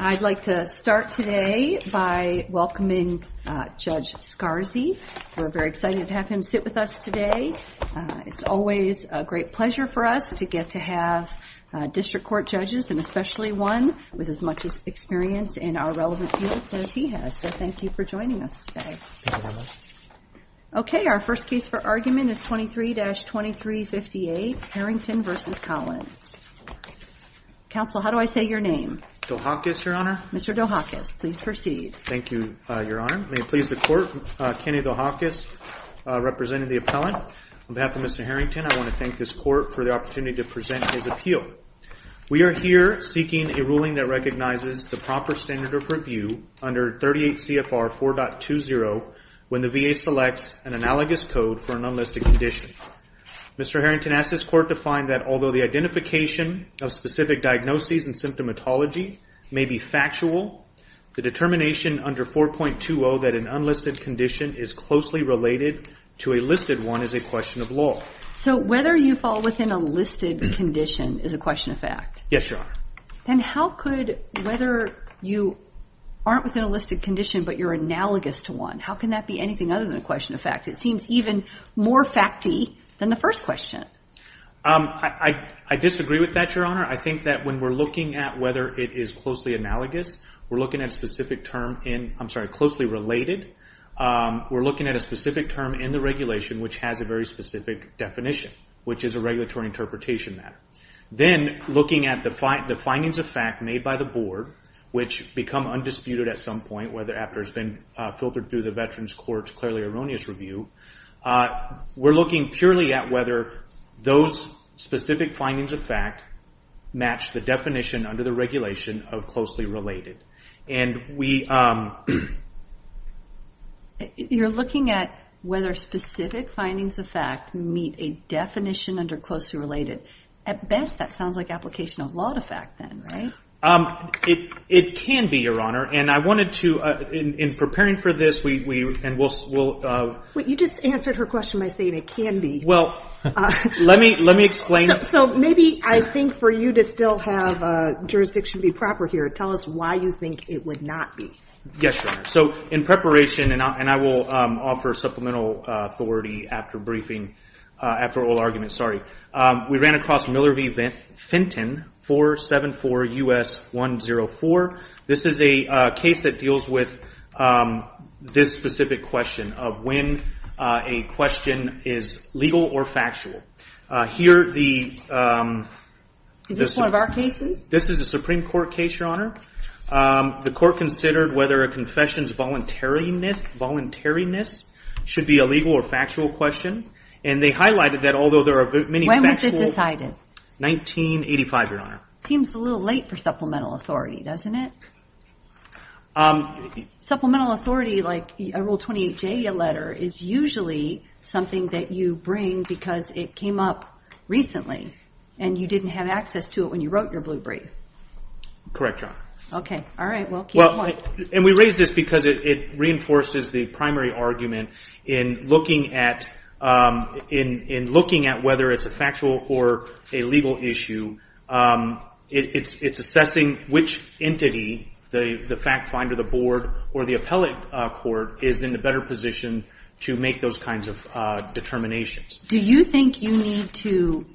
I'd like to start today by welcoming Judge Scarzi. We're very excited to have him sit with us today. It's always a great pleasure for us to get to have district court judges and especially one with as much experience in our relevant units as he has. So thank you for joining us today. Thank you very much. Okay, our first case for argument is 23-2358 Harrington v. Collins. Counsel, how do I say your name? Mr. Dohakis, your honor. Mr. Dohakis, please proceed. Thank you, your honor. May it please the court, Kenny Dohakis representing the appellant. On behalf of Mr. Harrington, I want to thank this court for the opportunity to present his appeal. We are here seeking a ruling that recognizes the proper standard of review under 38 CFR 4.20 when the VA selects an analogous code for an unlisted condition. Mr. Harrington asks this court to find that although the identification of specific diagnoses and symptomatology may be factual, the determination under 4.20 that an unlisted condition is closely related to a listed one is a question of law. So whether you fall within a listed condition is a question of fact? Yes, your honor. Then how could whether you aren't within a listed condition but you're analogous to one, how can that be anything other than a question of fact? It seems even more facty than the first question. I disagree with that, your honor. I think that when we're looking at whether it is closely analogous, we're looking at a specific term in, I'm sorry, closely related, we're looking at a specific term in the regulation which has a very specific definition, which is a regulatory interpretation matter. Then looking at the findings of fact made by the board which become undisputed at some point whether after it's been filtered through the veterans court's clearly erroneous review. We're looking purely at whether those specific findings of fact match the definition under the regulation of closely related. You're looking at whether specific findings of fact meet a definition under closely related. At best that sounds like application of law to fact then, right? It can be, your honor. I wanted to, in preparing for this, we... You just answered her question by saying it can be. Let me explain. Maybe I think for you to still have jurisdiction be proper here, tell us why you think it would not be. Yes, your honor. In preparation, and I will offer supplemental authority after briefing, after all arguments, sorry, we ran across Miller v. Fenton 474 US 104. This is a case that deals with this specific question of when a question is legal or factual. Here the... Is this one of our cases? This is a Supreme Court case, your honor. The court considered whether a confession's voluntariness should be a legal or factual question, and they highlighted that although there are many factual... When was it decided? 1985, your honor. Seems a little late for supplemental authority, doesn't it? Supplemental authority, like a Rule 28J letter, is usually something that you bring because it came up recently, and you didn't have access to it when you wrote your blue brief. Correct, your honor. Okay, all right, well keep going. We raise this because it reinforces the primary argument in looking at whether it's a factual or a legal issue, it's assessing which entity, the fact finder, the board, or the appellate court is in a better position to make those kinds of determinations. Do you think you need to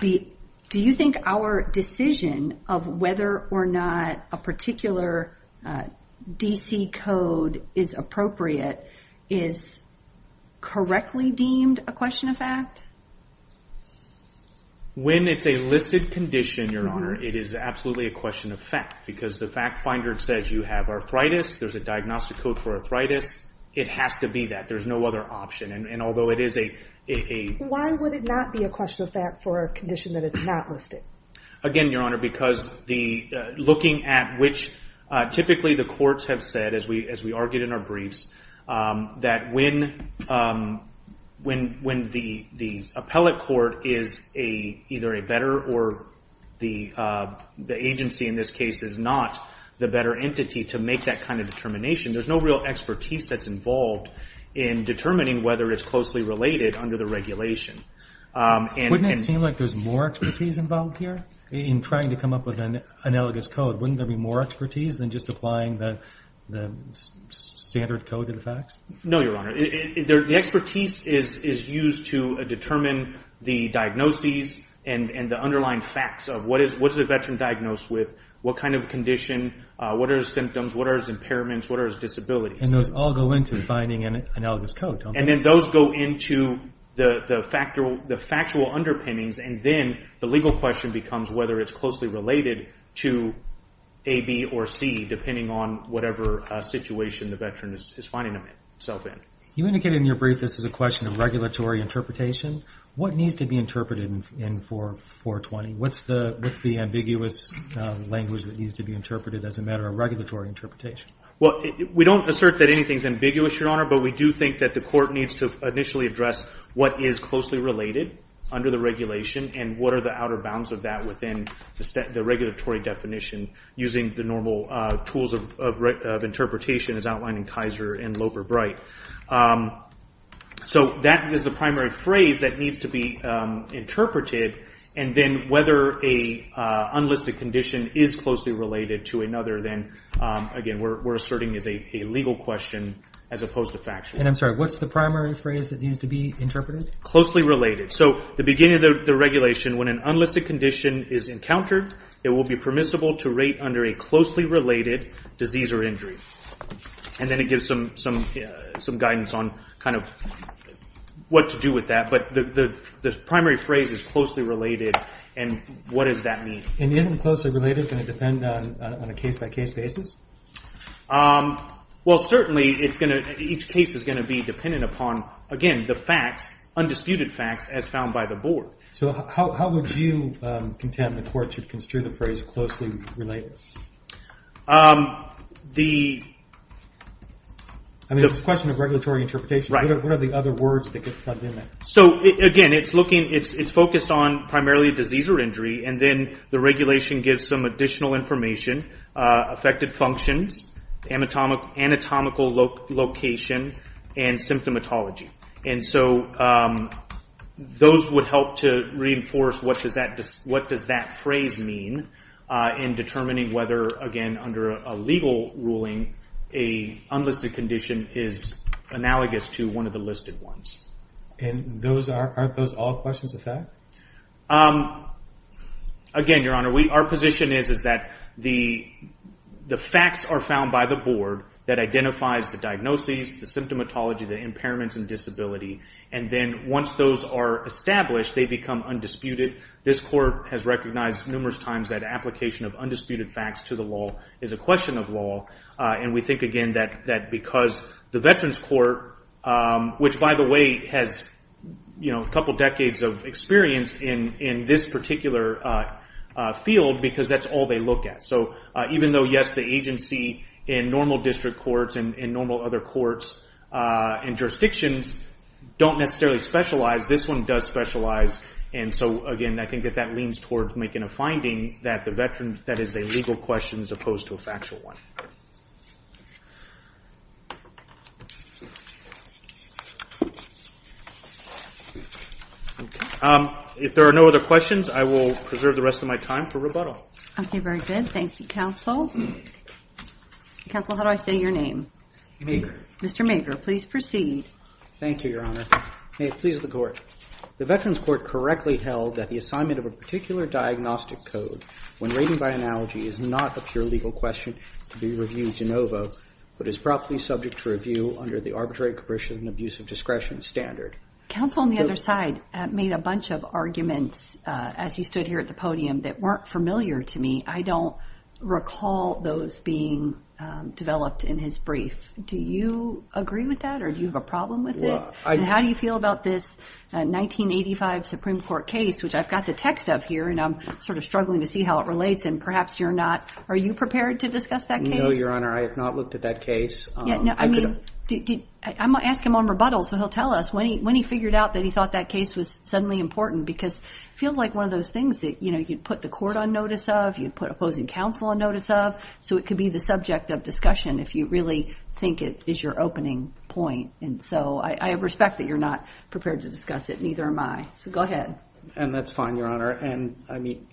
be... Do you think our decision of whether or not a particular DC code is appropriate is correctly deemed a question of fact? When it's a listed condition, your honor, it is absolutely a question of fact because the fact finder says you have arthritis, there's a diagnostic code for arthritis, it has to be that, there's no other option, and although it is a... Why would it not be a question of fact for a condition that it's not listed? Again, your honor, because looking at which... Typically the courts have said, as we argued in our briefs, that when the appellate court is either a better or the agency in this case is not the better entity to make that kind of determination, there's no real expertise that's involved in determining whether it's closely related under the regulation. Wouldn't it seem like there's more expertise involved here in trying to come up with an analogous code? Wouldn't there be more expertise than just applying the standard code to the facts? No, your honor. The expertise is used to determine the diagnoses and the underlying facts of what is a veteran diagnosed with, what kind of condition, what are his symptoms, what are his impairments, what are his disabilities. And those all go into finding an analogous code, don't they? And then those go into the factual underpinnings and then the legal question becomes whether it's closely related to A, B, or C, depending on whatever situation the veteran is finding himself in. You indicated in your brief this is a question of regulatory interpretation. What needs to be interpreted in 420? What's the ambiguous language that needs to be interpreted as a matter of regulatory interpretation? Well, we don't assert that anything is ambiguous, your honor, but we do think that the court needs to initially address what is closely related under the regulation and what are the outer bounds of that within the regulatory definition using the normal tools of interpretation as outlined in Kaiser and Loper-Bright. So that is the primary phrase that needs to be interpreted. And then whether a unlisted condition is closely related to another, then, again, we're asserting as a legal question as opposed to factual. And I'm sorry, what's the primary phrase that needs to be interpreted? Closely related. So the beginning of the regulation, when an unlisted condition is encountered, it will be permissible to rate under a closely related disease or injury. And then it gives some guidance on kind of what to do with that. But the primary phrase is closely related. And what does that mean? And isn't closely related going to depend on a case-by-case basis? Well, certainly, each case is going to be dependent upon, again, the facts, undisputed facts, as found by the board. So how would you contend the court should construe the phrase closely related? I mean, it's a question of regulatory interpretation. What are the other words that get plugged in there? So, again, it's focused on primarily disease or injury. And then the regulation gives some additional information, affected functions, anatomical location, and symptomatology. And so those would help to reinforce what does that phrase mean in determining whether, again, under a legal ruling, an unlisted condition is analogous to one of the listed ones. And aren't those all questions of fact? Again, Your Honor, our position is that the facts are found by the board that identifies the diagnoses, the symptomatology, the impairments, and disability. And then once those are established, they become undisputed. This court has recognized numerous times that application of undisputed facts to the law is a question of law. And we think, again, that because the Veterans Court, which, by the way, has a couple decades of experience in this particular field, because that's all they look at. So even though, yes, the agency in normal district courts and normal other courts and jurisdictions don't necessarily specialize, this one does specialize. And so, again, I think that that leans towards making a finding that is a legal question as opposed to a factual one. If there are no other questions, I will preserve the rest of my time for rebuttal. Okay, very good. Thank you, counsel. Counsel, how do I say your name? Mager. Mr. Mager, please proceed. Thank you, Your Honor. May it please the Court. The Veterans Court correctly held that the assignment of a particular diagnostic code when rated by analogy is not a pure legal question to be reviewed in OVO, but is properly subject to review under the Arbitrary Capricious and Abusive Discretion Standard. Counsel, on the other side, made a bunch of arguments as he stood here at the podium that weren't familiar to me. I don't recall those being developed in his brief. Do you agree with that, or do you have a problem with it? How do you feel about this 1985 Supreme Court case, which I've got the text of here, and I'm sort of struggling to see how it relates, and perhaps you're not. Are you prepared to discuss that case? No, Your Honor, I have not looked at that case. I'm going to ask him on rebuttal, so he'll tell us. When he figured out that he thought that case was suddenly important, because it feels like one of those things that you'd put the court on notice of, you'd put opposing counsel on notice of, so it could be the subject of discussion if you really think it is your opening point. So I respect that you're not prepared to discuss it, and neither am I. So go ahead. That's fine, Your Honor.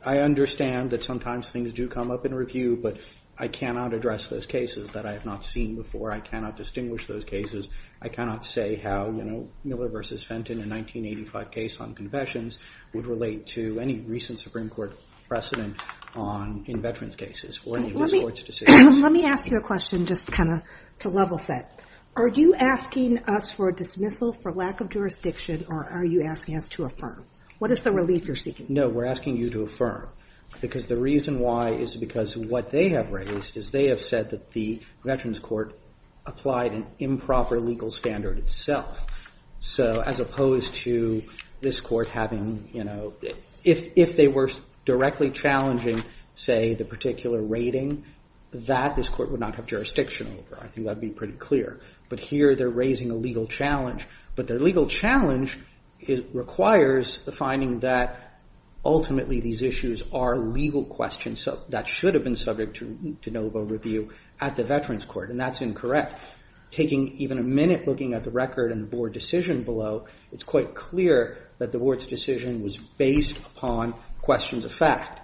I understand that sometimes things do come up in review, but I cannot address those cases that I have not seen before. I cannot distinguish those cases. I cannot say how Miller v. Fenton, a 1985 case on confessions, would relate to any recent Supreme Court precedent in veterans' cases or any of this Court's decisions. Let me ask you a question just to level set. Are you asking us for a dismissal for lack of jurisdiction, or are you asking us to affirm? What is the relief you're seeking? No, we're asking you to affirm. Because the reason why is because what they have raised is they have said that the Veterans Court applied an improper legal standard itself. So as opposed to this Court having, you know, if they were directly challenging, say, the particular rating, that this Court would not have jurisdiction over. I think that would be pretty clear. But here they're raising a legal challenge, but the legal challenge requires the finding that ultimately these issues are legal questions that should have been subject to no vote review at the Veterans Court, and that's incorrect. Taking even a minute looking at the record and the Board decision below, it's quite clear that the Board's decision was based upon questions of fact.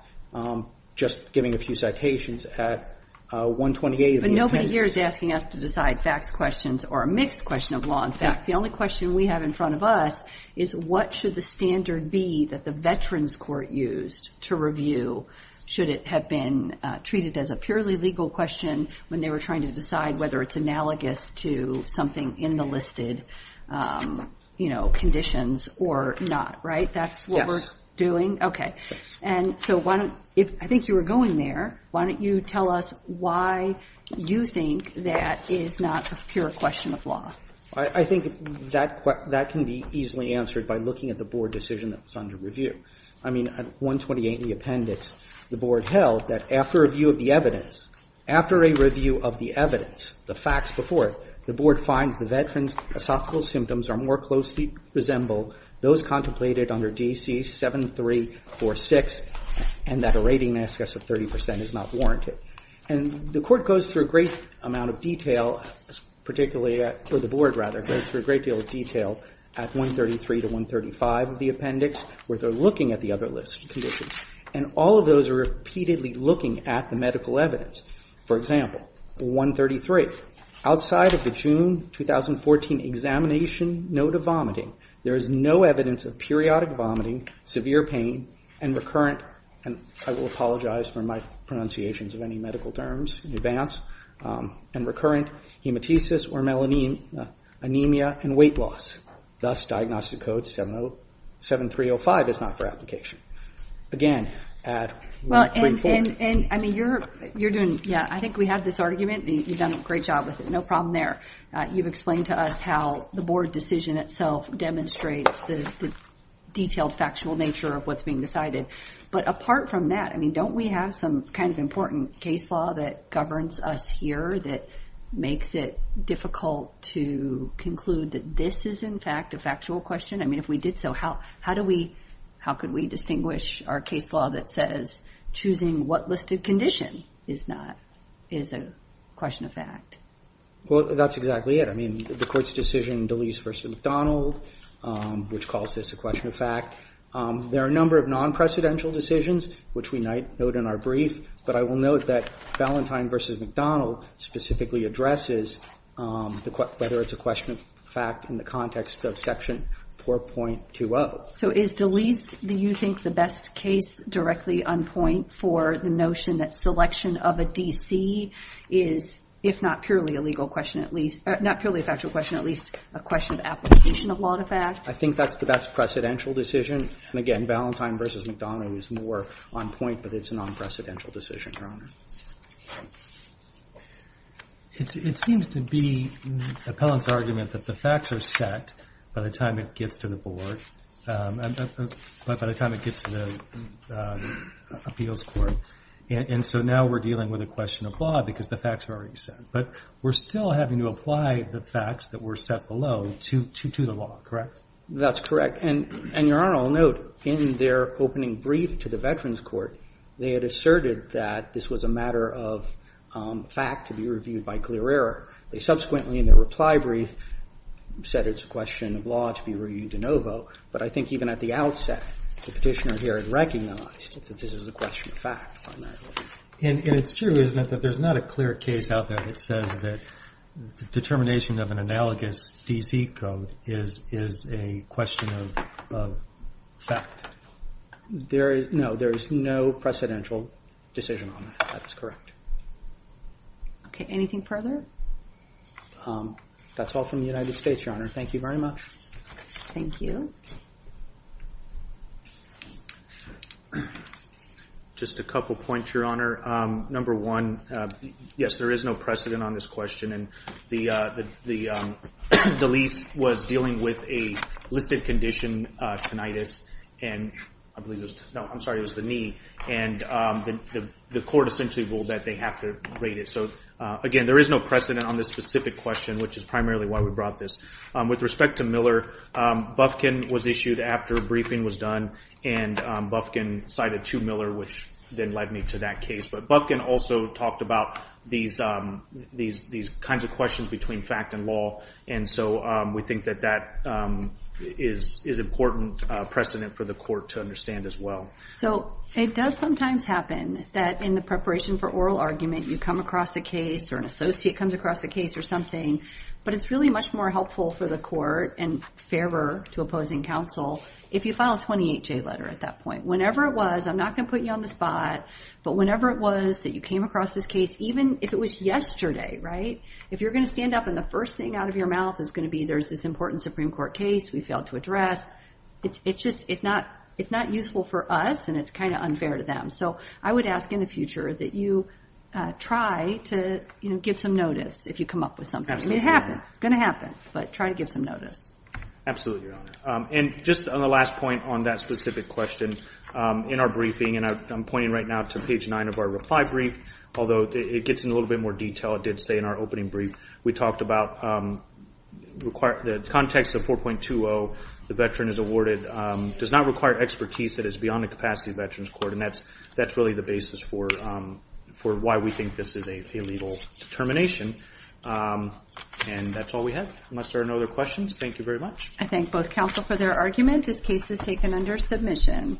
Just giving a few citations at 128 of the appendix. What they're doing here is asking us to decide facts questions or a mixed question of law and fact. The only question we have in front of us is what should the standard be that the Veterans Court used to review should it have been treated as a purely legal question when they were trying to decide whether it's analogous to something in the listed, you know, conditions or not. Right? That's what we're doing? Okay. And so I think you were going there. Why don't you tell us why you think that is not a pure question of law? I think that can be easily answered by looking at the Board decision that was under review. I mean, at 128 in the appendix, the Board held that after a review of the evidence, after a review of the evidence, the facts before it, the Board finds the Veterans' esophageal symptoms are more closely resembled those contemplated under D.C. 7346, and that a rating, I guess, of 30 percent is not warranted. And the Court goes through a great amount of detail, particularly, or the Board, rather, goes through a great deal of detail at 133 to 135 of the appendix where they're looking at the other listed conditions. And all of those are repeatedly looking at the medical evidence. For example, 133, outside of the June 2014 examination note of vomiting, there is no evidence of periodic vomiting, severe pain, and recurrent, and I will apologize for my pronunciations of any medical terms in advance, and recurrent hematesis or anemia and weight loss. Thus, Diagnostic Code 7305 is not for application. Again, at 134. I mean, you're doing, yeah, I think we have this argument. You've done a great job with it. No problem there. You've explained to us how the Board decision itself demonstrates the detailed factual nature of what's being decided. But apart from that, I mean, don't we have some kind of important case law that governs us here that makes it difficult to conclude that this is, in fact, a factual question? I mean, if we did so, how could we distinguish our case law that says choosing what listed condition is a question of fact? Well, that's exactly it. I mean, the Court's decision, Deleese v. McDonald, which calls this a question of fact. There are a number of non-precedential decisions, which we note in our brief, but I will note that Valentine v. McDonald specifically addresses whether it's a question of fact in the context of Section 4.20. So is Deleese, do you think, the best case directly on point for the notion that selection of a D.C. is, if not purely a legal question at least, not purely a factual question, at least a question of application of law to fact? I think that's the best precedential decision. And again, Valentine v. McDonald is more on point, but it's a non-precedential decision, Your Honor. It seems to be Appellant's argument that the facts are set by the time it gets to the Board, but by the time it gets to the Appeals Court. And so now we're dealing with a question of law because the facts are already set. But we're still having to apply the facts that were set below to the law, correct? That's correct. And, Your Honor, I'll note, in their opening brief to the Veterans Court, they had asserted that this was a matter of fact to be reviewed by clear error. They subsequently, in their reply brief, said it's a question of law to be reviewed de novo. But I think even at the outset, the Petitioner here has recognized that this is a question of fact primarily. And it's true, isn't it, that there's not a clear case out there that says that the determination of an analogous D.C. code is a question of fact? No, there is no precedential decision on that. That is correct. Okay, anything further? That's all from the United States, Your Honor. Thank you very much. Thank you. Just a couple points, Your Honor. Number one, yes, there is no precedent on this question. And the lease was dealing with a listed condition, tinnitus. And I believe it was the knee. And the court essentially ruled that they have to rate it. So again, there is no precedent on this specific question, which is primarily why we brought this. With respect to Miller, Bufkin was issued after a briefing was done. And Bufkin cited to Miller, which then led me to that case. But Bufkin also talked about these kinds of questions between fact and law. And so we think that that is an important precedent for the court to understand as well. So it does sometimes happen that in the preparation for oral argument you come across a case or an associate comes across a case or something. But it's really much more helpful for the court and fairer to opposing counsel if you file a 28-J letter at that point. Whenever it was, I'm not going to put you on the spot, but whenever it was that you came across this case, even if it was yesterday, right, if you're going to stand up and the first thing out of your mouth is going to be there's this important Supreme Court case we failed to address, it's just not useful for us and it's kind of unfair to them. So I would ask in the future that you try to give some notice if you come up with something. I mean, it happens. It's going to happen, but try to give some notice. Absolutely, Your Honor. And just on the last point on that specific question, in our briefing, and I'm pointing right now to page 9 of our reply brief, although it gets into a little bit more detail, it did say in our opening brief, we talked about the context of 4.20, the veteran is awarded, does not require expertise that is beyond the capacity of the Veterans Court, and that's really the basis for why we think this is a legal termination. And that's all we have unless there are no other questions. Thank you very much. I thank both counsel for their argument. This case is taken under submission.